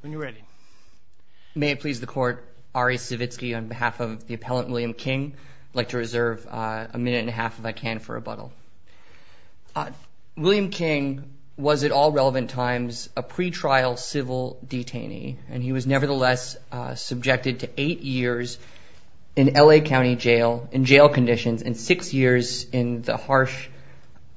When you're ready. May it please the court, Ari Savitsky on behalf of the appellant William King. I'd like to reserve a minute and a half, if I can, for rebuttal. William King was at all relevant times a pretrial civil detainee, and he was nevertheless subjected to eight years in L.A. County Jail, in jail conditions, and six years in the harsh,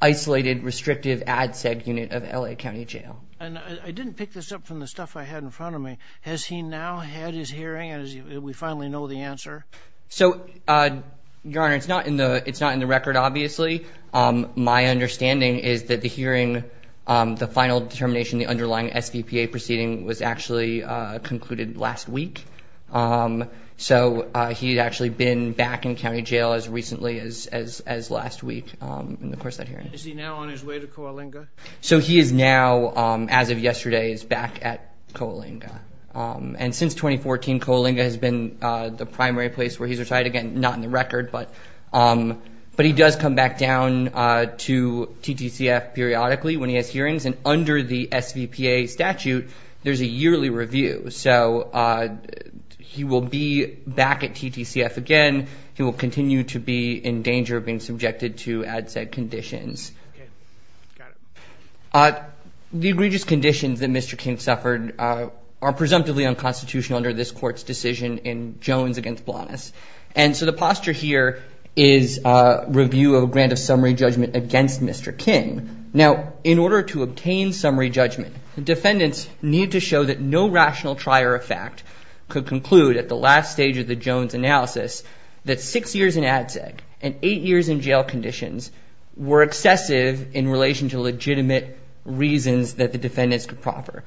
isolated, restrictive ADSEG unit of L.A. County Jail. And I didn't pick this up from the stuff I had in front of me. Has he now had his hearing? Do we finally know the answer? So, Your Honor, it's not in the record, obviously. My understanding is that the hearing, the final determination, the underlying SVPA proceeding was actually concluded last week. So he had actually been back in county jail as recently as last week in the course of that hearing. Is he now on his way to Coalinga? So he is now, as of yesterday, is back at Coalinga. And since 2014, Coalinga has been the primary place where he's retired. Again, not in the record, but he does come back down to TTCF periodically when he has hearings. And under the SVPA statute, there's a yearly review. So he will be back at TTCF again. He will continue to be in danger of being subjected to ADSEG conditions. Okay. Got it. The egregious conditions that Mr. King suffered are presumptively unconstitutional under this court's decision in Jones v. Blanas. And so the posture here is review of a grant of summary judgment against Mr. King. Now, in order to obtain summary judgment, the defendants need to show that no rational trier of fact could conclude at the last stage of the Jones analysis that six years in ADSEG and eight years in jail conditions were excessive in relation to legitimate reasons that the defendants could proffer.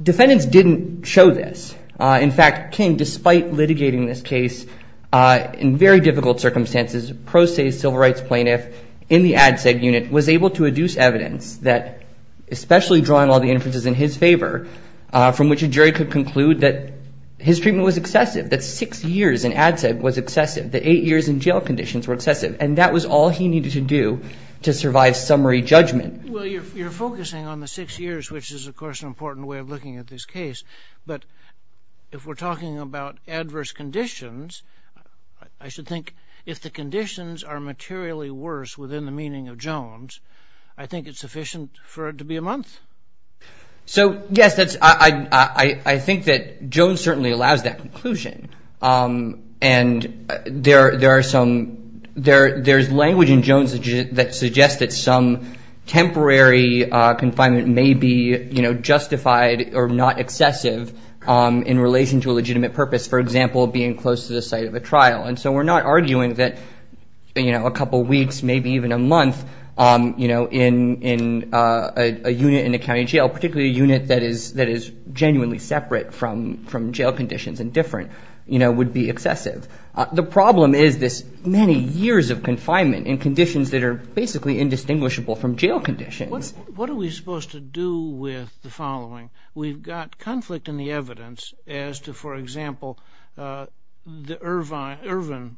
Defendants didn't show this. In fact, King, despite litigating this case in very difficult circumstances, pro se civil rights plaintiff in the ADSEG unit was able to adduce evidence that, especially drawing all the inferences in his favor, from which a jury could conclude that his treatment was excessive, that six years in ADSEG was excessive, that eight years in jail conditions were excessive. And that was all he needed to do to survive summary judgment. Well, you're focusing on the six years, which is, of course, an important way of looking at this case. But if we're talking about adverse conditions, I should think if the conditions are materially worse within the meaning of Jones, I think it's sufficient for it to be a month. So, yes, I think that Jones certainly allows that conclusion. And there's language in Jones that suggests that some temporary confinement may be justified or not excessive in relation to a legitimate purpose, for example, being close to the site of a trial. And so we're not arguing that a couple weeks, maybe even a month in a unit in a county jail, particularly a unit that is genuinely separate from jail conditions and different, would be excessive. The problem is this many years of confinement in conditions that are basically indistinguishable from jail conditions. What are we supposed to do with the following? We've got conflict in the evidence as to, for example, the Irvine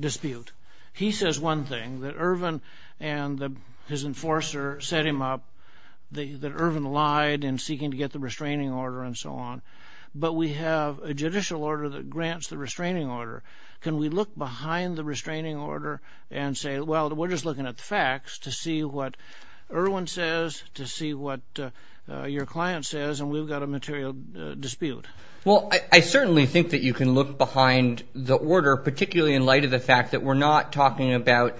dispute. He says one thing, that Irvine and his enforcer set him up, that Irvine lied in seeking to get the restraining order and so on. But we have a judicial order that grants the restraining order. Can we look behind the restraining order and say, well, we're just looking at the facts to see what Irvine says, to see what your client says, and we've got a material dispute? Well, I certainly think that you can look behind the order, particularly in light of the fact that we're not talking about,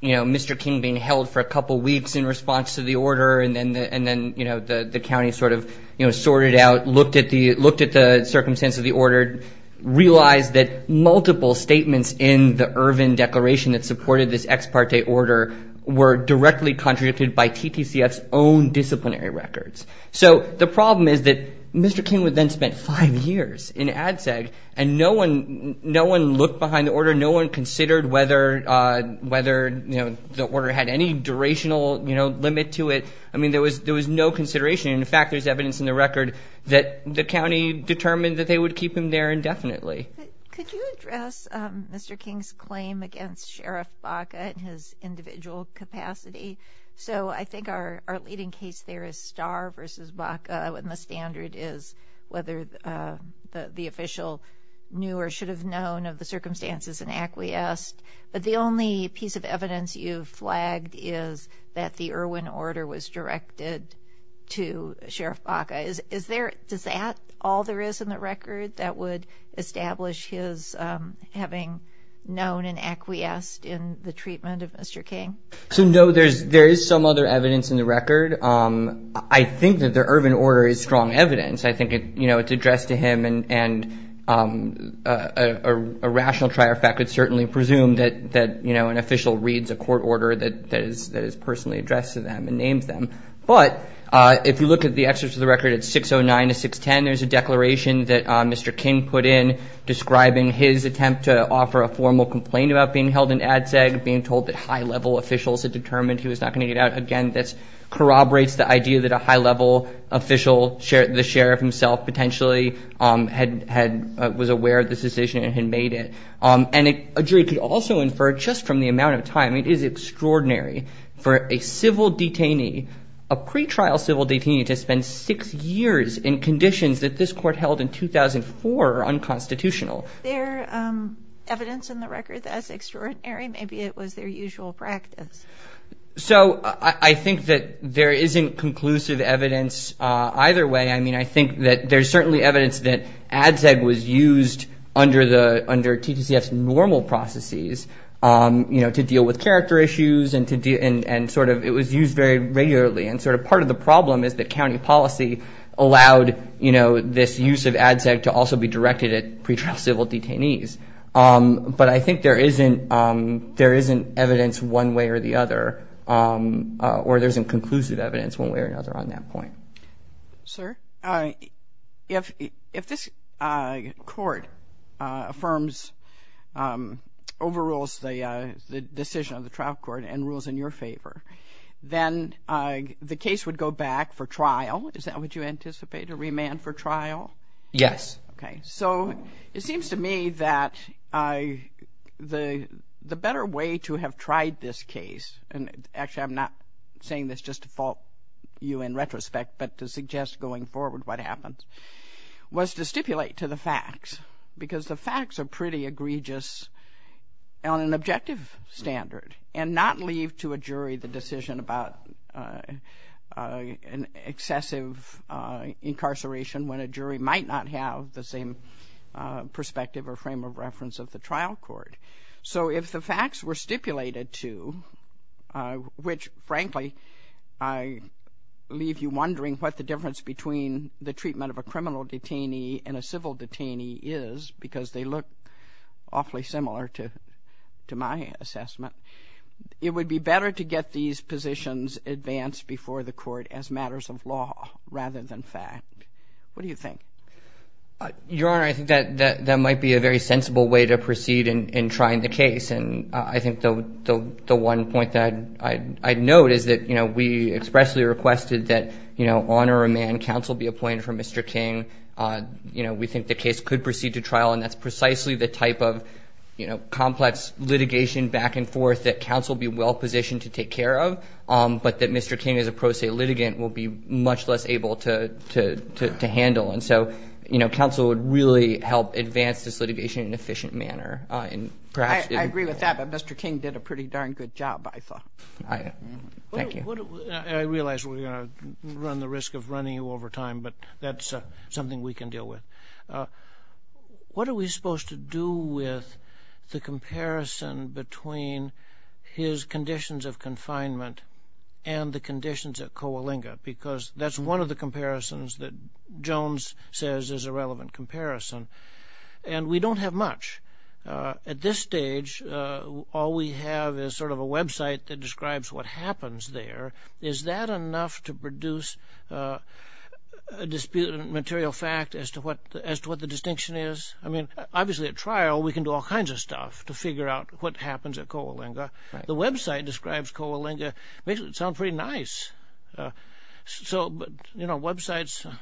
you know, Mr. King being held for a couple weeks in response to the order and then, you know, the county sort of, you know, sorted out, looked at the circumstance of the order, realized that multiple statements in the Irvine declaration that supported this ex parte order were directly contradicted by TTCF's own disciplinary records. So the problem is that Mr. King would then spend five years in ADSEG, and no one looked behind the order. No one considered whether, you know, the order had any durational, you know, limit to it. I mean, there was no consideration. In fact, there's evidence in the record that the county determined that they would keep him there indefinitely. Could you address Mr. King's claim against Sheriff Baca and his individual capacity? So I think our leading case there is Starr versus Baca, and the standard is whether the official knew or should have known of the circumstances and acquiesced. But the only piece of evidence you've flagged is that the Irvine order was directed to Sheriff Baca. Is there, is that all there is in the record that would establish his having known and acquiesced in the treatment of Mr. King? So, no, there is some other evidence in the record. I think that the Irvine order is strong evidence. I think, you know, it's addressed to him, and a rational trier of fact would certainly presume that, you know, an official reads a court order that is personally addressed to them and names them. But if you look at the excerpts of the record at 609 to 610, there's a declaration that Mr. King put in describing his attempt to offer a It's a declaration that the high-level officials had determined he was not going to get out. Again, this corroborates the idea that a high-level official, the sheriff himself potentially, was aware of this decision and had made it. And a jury could also infer just from the amount of time, it is extraordinary for a civil detainee, a pretrial civil detainee, to spend six years in conditions that this court held in 2004 are unconstitutional. So I think that there isn't conclusive evidence either way. I mean, I think that there's certainly evidence that ADCEG was used under TTCF's normal processes, you know, to deal with character issues and sort of it was used very regularly. And sort of part of the problem is that county policy allowed, you know, this use of ADCEG to also be directed at pretrial civil detainees. But I think there isn't evidence one way or the other, or there isn't conclusive evidence one way or another on that point. Sir, if this court overrules the decision of the trial court and rules in your favor, then the case would go back for trial. Would you anticipate a remand for trial? But the better way to have tried this case, and actually I'm not saying this just to fault you in retrospect, but to suggest going forward what happens, was to stipulate to the facts. Because the facts are pretty egregious on an objective standard and not leave to a jury the decision about an excessive incarceration when a jury might not have the same perspective or frame of reference. So if the facts were stipulated to, which frankly I leave you wondering what the difference between the treatment of a criminal detainee and a civil detainee is, because they look awfully similar to my assessment, it would be better to get these positions advanced before the court as matters of law rather than fact. Your Honor, I think that might be a very sensible way to proceed in trying the case. And I think the one point that I'd note is that we expressly requested that on a remand counsel be appointed for Mr. King. We think the case could proceed to trial, and that's precisely the type of complex litigation back and forth that counsel be well positioned to take care of, but that Mr. King is a very difficult case to handle, and so counsel would really help advance this litigation in an efficient manner. I agree with that, but Mr. King did a pretty darn good job, I thought. I realize we're going to run the risk of running you over time, but that's something we can deal with. What are we supposed to do with the comparison between his conditions of confinement and the conditions at Coalinga? Because that's one of the comparisons that Jones says is a relevant comparison, and we don't have much. At this stage, all we have is sort of a website that describes what happens there. Is that enough to produce a disputed material fact as to what the distinction is? I mean, obviously at trial we can do all kinds of stuff to figure out what happens at Coalinga. The website describes Coalinga, makes it sound pretty nice. Websites,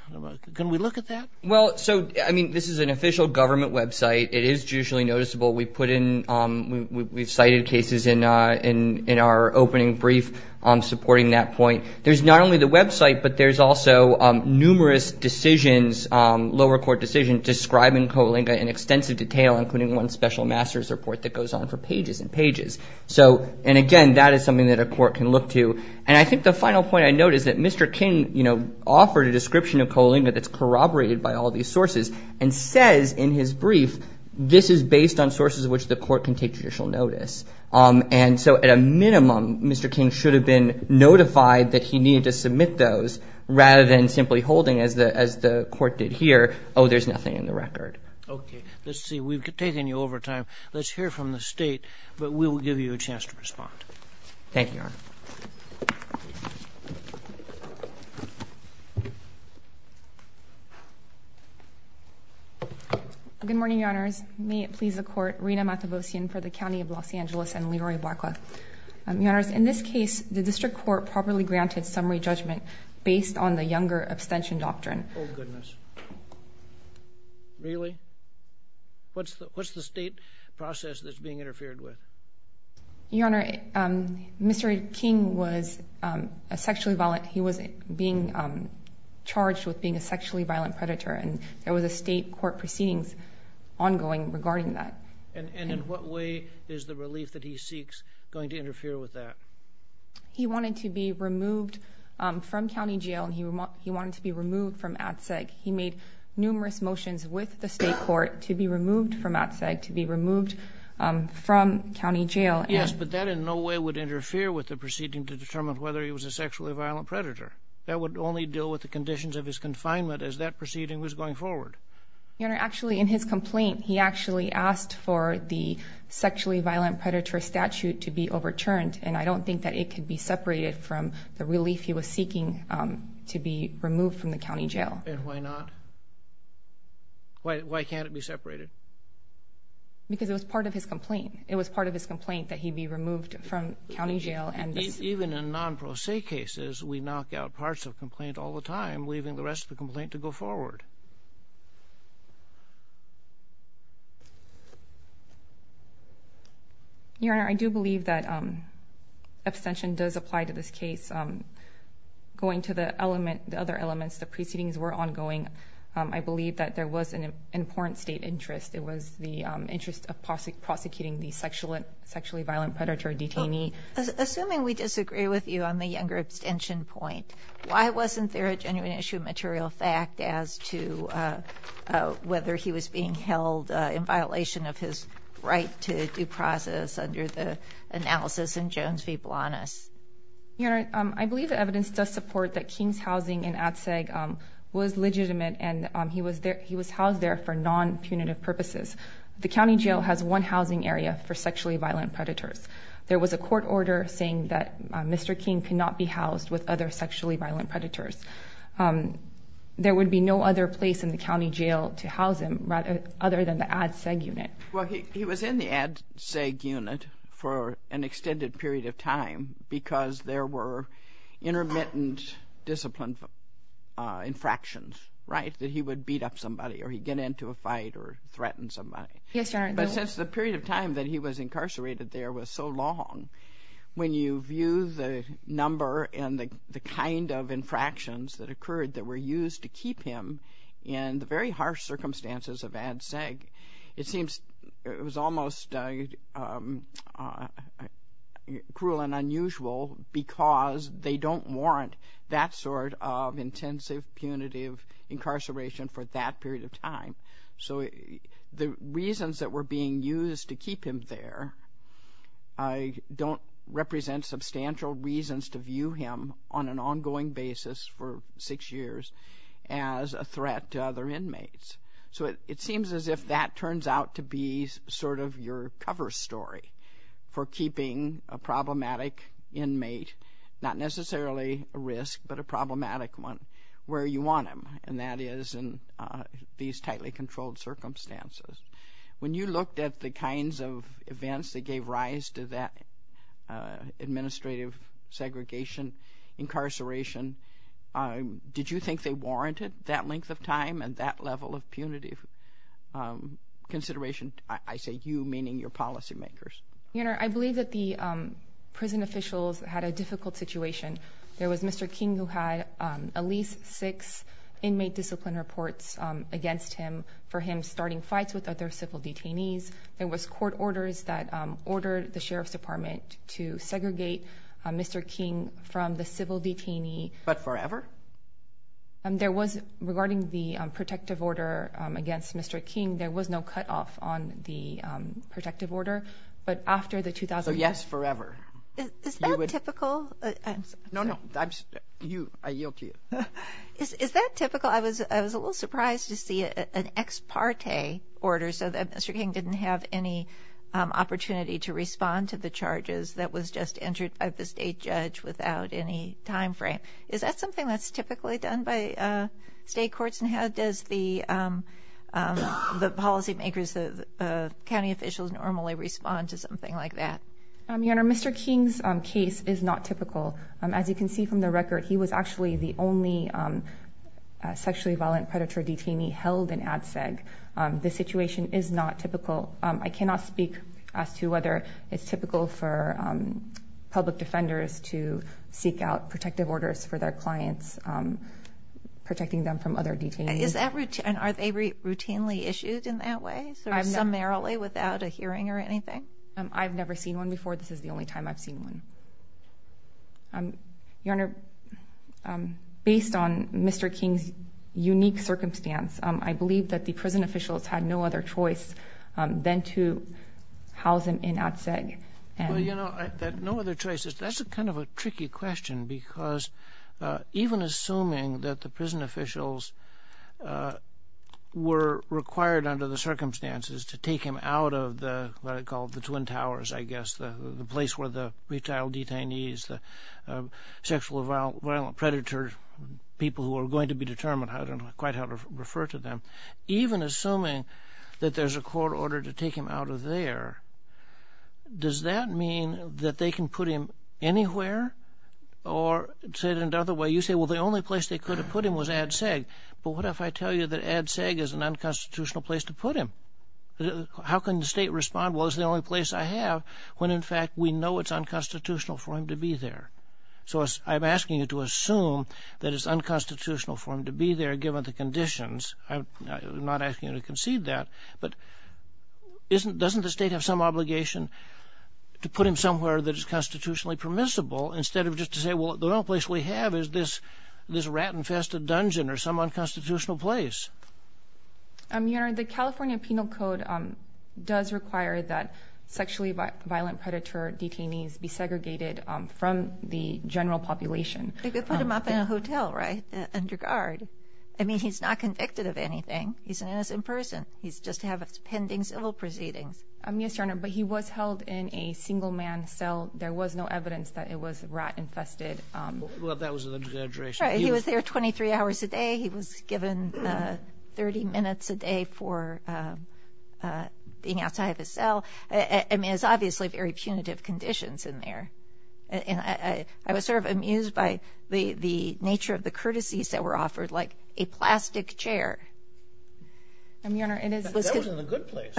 can we look at that? Well, this is an official government website. It is judicially noticeable. We've cited cases in our opening brief supporting that point. There's not only the website, but there's also numerous decisions, lower court decisions, describing Coalinga in extensive detail, including one special master's report that goes on for pages and pages. And again, that is something that a court can look to. And I think the final point I'd note is that Mr. King offered a description of Coalinga that's corroborated by all these sources, and says in his brief, this is based on sources which the court can take judicial notice. And so at a minimum, Mr. King should have been notified that he needed to submit those rather than simply holding, as the court did here, oh, there's nothing in the record. Okay. Let's see. We've taken you over time. Let's hear from the State, but we will give you a chance to respond. Thank you, Your Honor. Good morning, Your Honors. May it please the Court, Rina Mathevosian for the County of Los Angeles and Leroy Blackwell. Your Honors, in this case, the District Court properly granted summary judgment based on the younger abstention doctrine. Oh, goodness. Really? What's the State process that's being interfered with? Your Honor, Mr. King was being charged with being a sexually violent predator, and there was a State court proceedings ongoing regarding that. And in what way is the relief that he seeks going to interfere with that? He wanted to be removed from county jail, and he wanted to be removed from ADCEG. He made numerous motions with the State court to be removed from ADCEG, to be removed from county jail. Yes, but that in no way would interfere with the proceeding to determine whether he was a sexually violent predator. That would only deal with the conditions of his confinement as that proceeding was going forward. Your Honor, actually, in his complaint, he actually asked for the sexually violent predator statute to be overturned, and I don't think that it could be separated from the relief he was seeking to be removed from the county jail. And why not? Why can't it be separated? Because it was part of his complaint. It was part of his complaint that he be removed from county jail. Even in non-pro se cases, we knock out parts of a complaint all the time, leaving the rest of the complaint to go forward. Your Honor, I do believe that abstention does apply to this case. Going to the other elements, the proceedings were ongoing. I believe that there was an important State interest. It was the interest of prosecuting the sexually violent predator detainee. Assuming we disagree with you on the younger abstention point, why wasn't there a genuine issue of material fact as to whether he was being held in violation of his right to due process under the analysis in Jones v. Blanas? I believe the evidence does support that King's housing in Ad Seg was legitimate, and he was housed there for non-punitive purposes. The county jail has one housing area for sexually violent predators. There was a court order saying that Mr. King could not be housed with other sexually violent predators. There would be no other place in the county jail to house him other than the Ad Seg unit. Well, he was in the Ad Seg unit for an extended period of time because there were intermittent disciplined infractions, right, that he would beat up somebody or he'd get into a fight or threaten somebody. Yes, Your Honor. But since the period of time that he was incarcerated there was so long, when you view the number and the kind of infractions that occurred that were used to keep him in the very harsh circumstances of Ad Seg, it seems it was almost cruel and unusual because they don't warrant that sort of intensive punitive incarceration for that period of time. So the reasons that were being used to keep him there, I don't represent substantial reasons to view him on an ongoing basis for six years as a threat to other inmates. So it seems as if that turns out to be sort of your cover story for keeping a problematic inmate, not necessarily a risk, but a problematic one, where you want him, and that is in these tightly controlled circumstances. When you looked at the kinds of events that gave rise to that administrative segregation, incarceration, did you think they warranted that length of time and that level of punitive consideration? I say you, meaning your policymakers. Your Honor, I believe that the prison officials had a difficult situation. There was Mr. King who had at least six inmate discipline reports against him for him starting fights with other civil detainees. There was court orders that ordered the Sheriff's Department to segregate Mr. King from the civil detainee. But forever? Regarding the protective order against Mr. King, there was no cutoff on the protective order, but after the 2001... So yes, forever. Is that typical? No, no, I yield to you. Is that typical? Well, I was a little surprised to see an ex parte order so that Mr. King didn't have any opportunity to respond to the charges that was just entered by the state judge without any time frame. Is that something that's typically done by state courts, and how does the policymakers, the county officials normally respond to something like that? Your Honor, Mr. King's case is not typical. As you can see from the record, he was actually the only sexually violent predator detainee held in ADSEG. This situation is not typical. I cannot speak as to whether it's typical for public defenders to seek out protective orders for their clients, protecting them from other detainees. And are they routinely issued in that way, or summarily without a hearing or anything? I've never seen one before. This is the only time I've seen one. Your Honor, based on Mr. King's unique circumstance, I believe that the prison officials had no other choice than to house him in ADSEG. Well, you know, that no other choice, that's kind of a tricky question because even assuming that the prison officials were required under the circumstances to take him out of what I call the Twin Towers, I guess, the place where the retired detainees, the sexually violent predator people who are going to be determined, I don't quite know how to refer to them. Even assuming that there's a court order to take him out of there, does that mean that they can put him anywhere? Or, to say it another way, you say, well, the only place they could have put him was ADSEG. But what if I tell you that ADSEG is an unconstitutional place to put him? How can the state respond, well, it's the only place I have, when in fact we know it's unconstitutional for him to be there? So I'm asking you to assume that it's unconstitutional for him to be there, given the conditions. I'm not asking you to concede that. But doesn't the state have some obligation to put him somewhere that is constitutionally permissible instead of just to say, well, the only place we have is this rat-infested dungeon or some unconstitutional place? Your Honor, the California Penal Code does require that sexually violent predator detainees be segregated from the general population. They could put him up in a hotel, right, under guard. I mean, he's not convicted of anything. He's an innocent person. He's just having pending civil proceedings. Yes, Your Honor, but he was held in a single man cell. There was no evidence that it was rat-infested. Well, that was an exaggeration. He was there 23 hours a day. He was given 30 minutes a day for being outside of his cell. I mean, it's obviously very punitive conditions in there. And I was sort of amused by the nature of the courtesies that were offered, like a plastic chair. That was in a good place.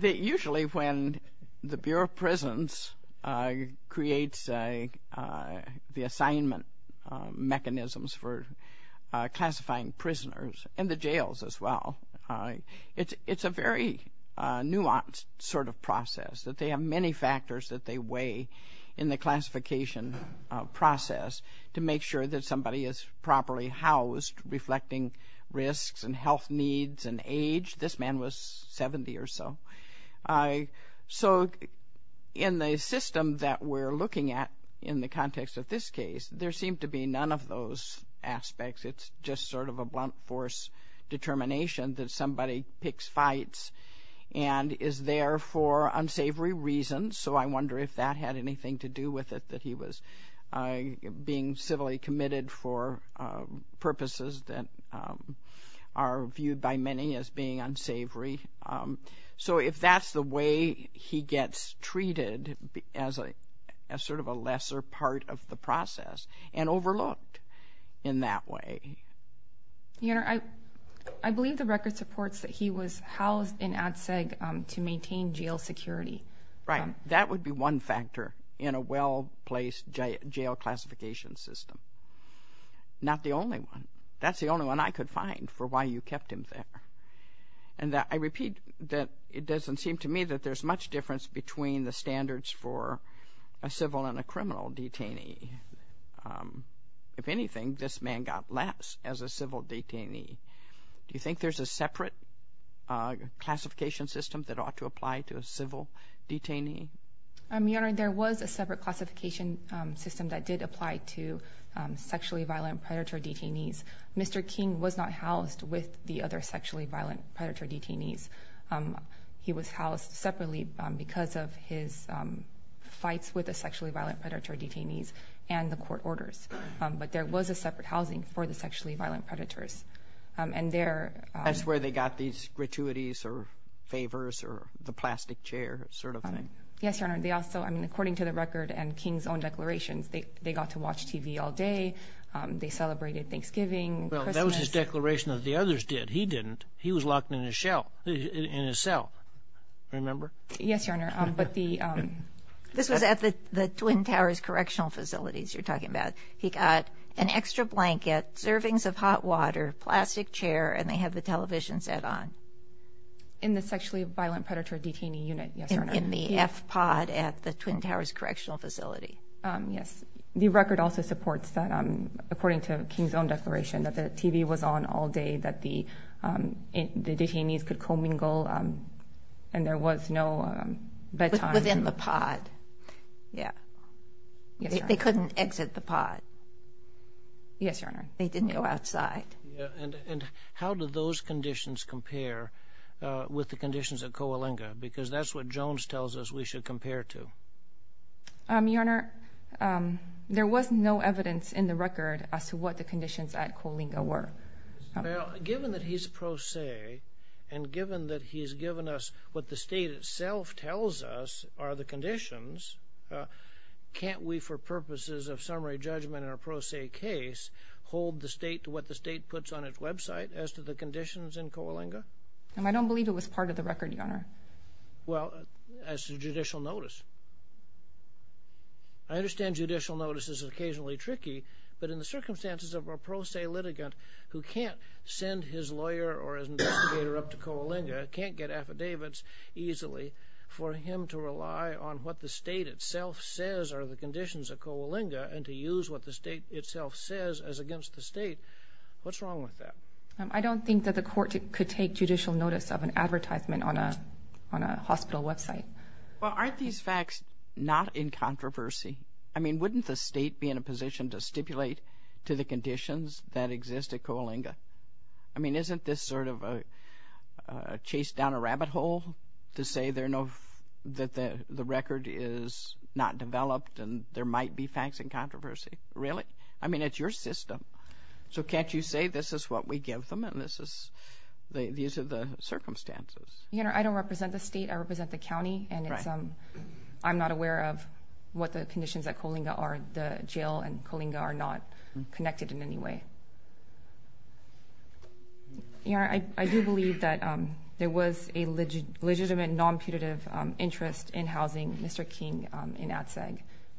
Usually when the Bureau of Prisons creates the assignment mechanisms for classifying prisoners, and the jails as well, it's a very nuanced sort of process, that they have many factors that they weigh in the classification process to make sure that somebody is properly housed, reflecting risks and health needs and age. This man was 70 or so. In the system that we're looking at in the context of this case, there seemed to be none of those aspects. It's just sort of a blunt force determination that somebody picks fights and is there for unsavory reasons. So I wonder if that had anything to do with it, that he was being civilly committed for purposes that are viewed by many as being unsavory. So if that's the way he gets treated as sort of a lesser part of the process, and overlooked in that way. Your Honor, I believe the record supports that he was housed in ADSEG to maintain jail security. Right. That would be one factor in a well-placed jail classification system. Not the only one. That's the only one I could find for why you kept him there. And I repeat that it doesn't seem to me that there's much difference between the standards for a civil and a criminal detainee. If anything, this man got less as a civil detainee. Do you think there's a separate classification system that ought to apply to a civil detainee? Your Honor, there was a separate classification system that did apply to sexually violent predator detainees. Mr. King was not housed with the other sexually violent predator detainees. He was housed separately because of his fights with the sexually violent predator detainees and the court orders. But there was a separate housing for the sexually violent predators. That's where they got these gratuities or favors or the plastic chair sort of thing. Yes, Your Honor. According to the record and King's own declarations, they got to watch TV all day. They celebrated Thanksgiving. That was his declaration that the others did. He didn't. He was locked in his cell. Remember? Yes, Your Honor. This was at the Twin Towers Correctional Facilities you're talking about. He got an extra blanket, servings of hot water, plastic chair, and they had the television set on. In the sexually violent predator detainee unit, yes, Your Honor. In the F pod at the Twin Towers Correctional Facility. Yes. The record also supports that, according to King's own declaration, that the TV was on all day, that the detainees could commingle and there was no bedtime. Within the pod. Yeah. They couldn't exit the pod. Yes, Your Honor. They didn't go outside. And how do those conditions compare with the conditions at Coalinga? Because that's what Jones tells us we should compare to. Your Honor, there was no evidence in the record as to what the conditions at Coalinga were. Given that he's pro se and given that he's given us what the state itself tells us are the conditions, can't we, for purposes of summary judgment in a pro se case, hold the state to what the state puts on its website as to the conditions in Coalinga? I don't believe it was part of the record, Your Honor. Well, as to judicial notice. I understand judicial notice is occasionally tricky, but in the circumstances of a pro se litigant who can't send his lawyer or his investigator up to Coalinga, can't get affidavits easily, for him to rely on what the state itself says are the conditions at Coalinga and to use what the state itself says as against the state, what's wrong with that? I don't think that the court could take judicial notice of an advertisement on a hospital website. Well, aren't these facts not in controversy? I mean, wouldn't the state be in a position to stipulate to the conditions that exist at Coalinga? I mean, isn't this sort of a chase down a rabbit hole to say that the record is not developed and there might be facts in controversy? Really? I mean, it's your system. So can't you say this is what we give them and these are the circumstances? Your Honor, I don't represent the state. I represent the county, and I'm not aware of what the conditions at Coalinga are. The jail and Coalinga are not connected in any way. Your Honor, I do believe that there was a legitimate non-punitive interest in housing Mr. King in ATSAG,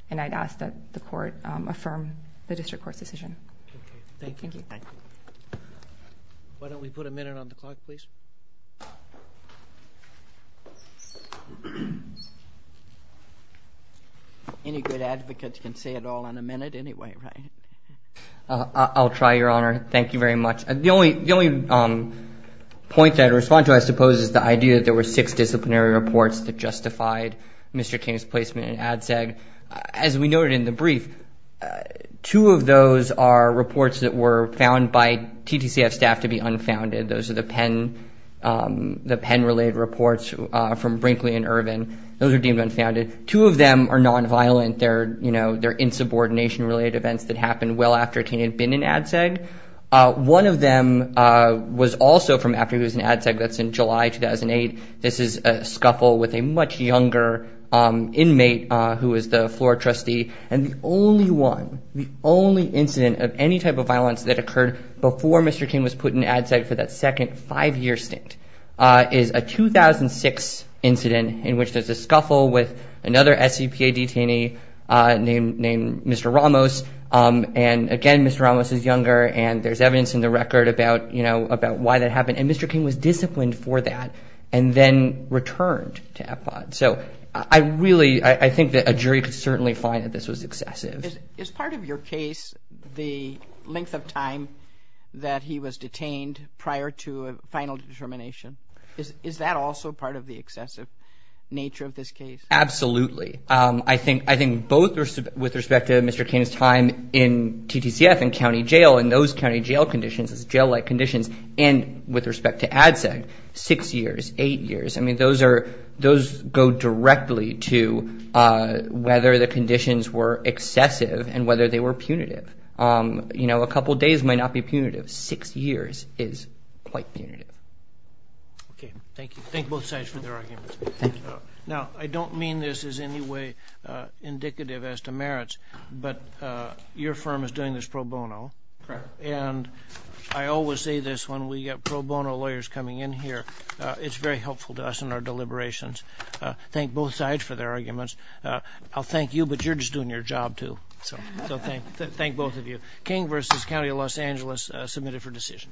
and I'd ask that the court affirm the district court's decision. Why don't we put a minute on the clock, please? Any good advocates can say it all in a minute anyway, right? I'll try, Your Honor. Thank you very much. The only point that I'd respond to, I suppose, is the idea that there were six disciplinary reports that justified Mr. King's placement in ATSAG. As we noted in the brief, two of those are reports that were found by TTCF staff to be unfounded. Those are the Penn-related reports from Brinkley and Irvin. Those are deemed unfounded. Two of them are non-violent. They're insubordination-related events that happened well after King had been in ATSAG. One of them was also from after he was in ATSAG. That's in July 2008. This is a scuffle with a much younger inmate who was the floor trustee, and the only one, the only incident of any type of violence that occurred before Mr. King was put in ATSAG for that second five-year stint is a 2006 incident in which there's a scuffle with another SEPA detainee named Mr. Ramos. And again, Mr. Ramos is younger, and there's evidence in the record about why that happened. And Mr. King was disciplined for that and then returned to Epcot. So I really, I think that a jury could certainly find that this was excessive. Is part of your case the length of time that he was detained prior to a final determination? Is that also part of the excessive nature of this case? Absolutely. I think both with respect to Mr. King's time in TTCF and county jail and those county jail conditions, jail-like conditions, and with respect to ATSAG, six years, eight years. I mean, those are, those go directly to whether the conditions were excessive and whether they were punitive. You know, a couple days might not be punitive. Six years is quite punitive. Okay. Thank you. Thank both sides for their arguments. Now, I don't mean this as any way indicative as to merits, but your firm is doing this pro bono. And I always say this when we get pro bono lawyers coming in here. It's very helpful to us in our deliberations. Thank both sides for their arguments. I'll thank you, but you're just doing your job, too. So thank both of you. King v. County of Los Angeles, submitted for decision.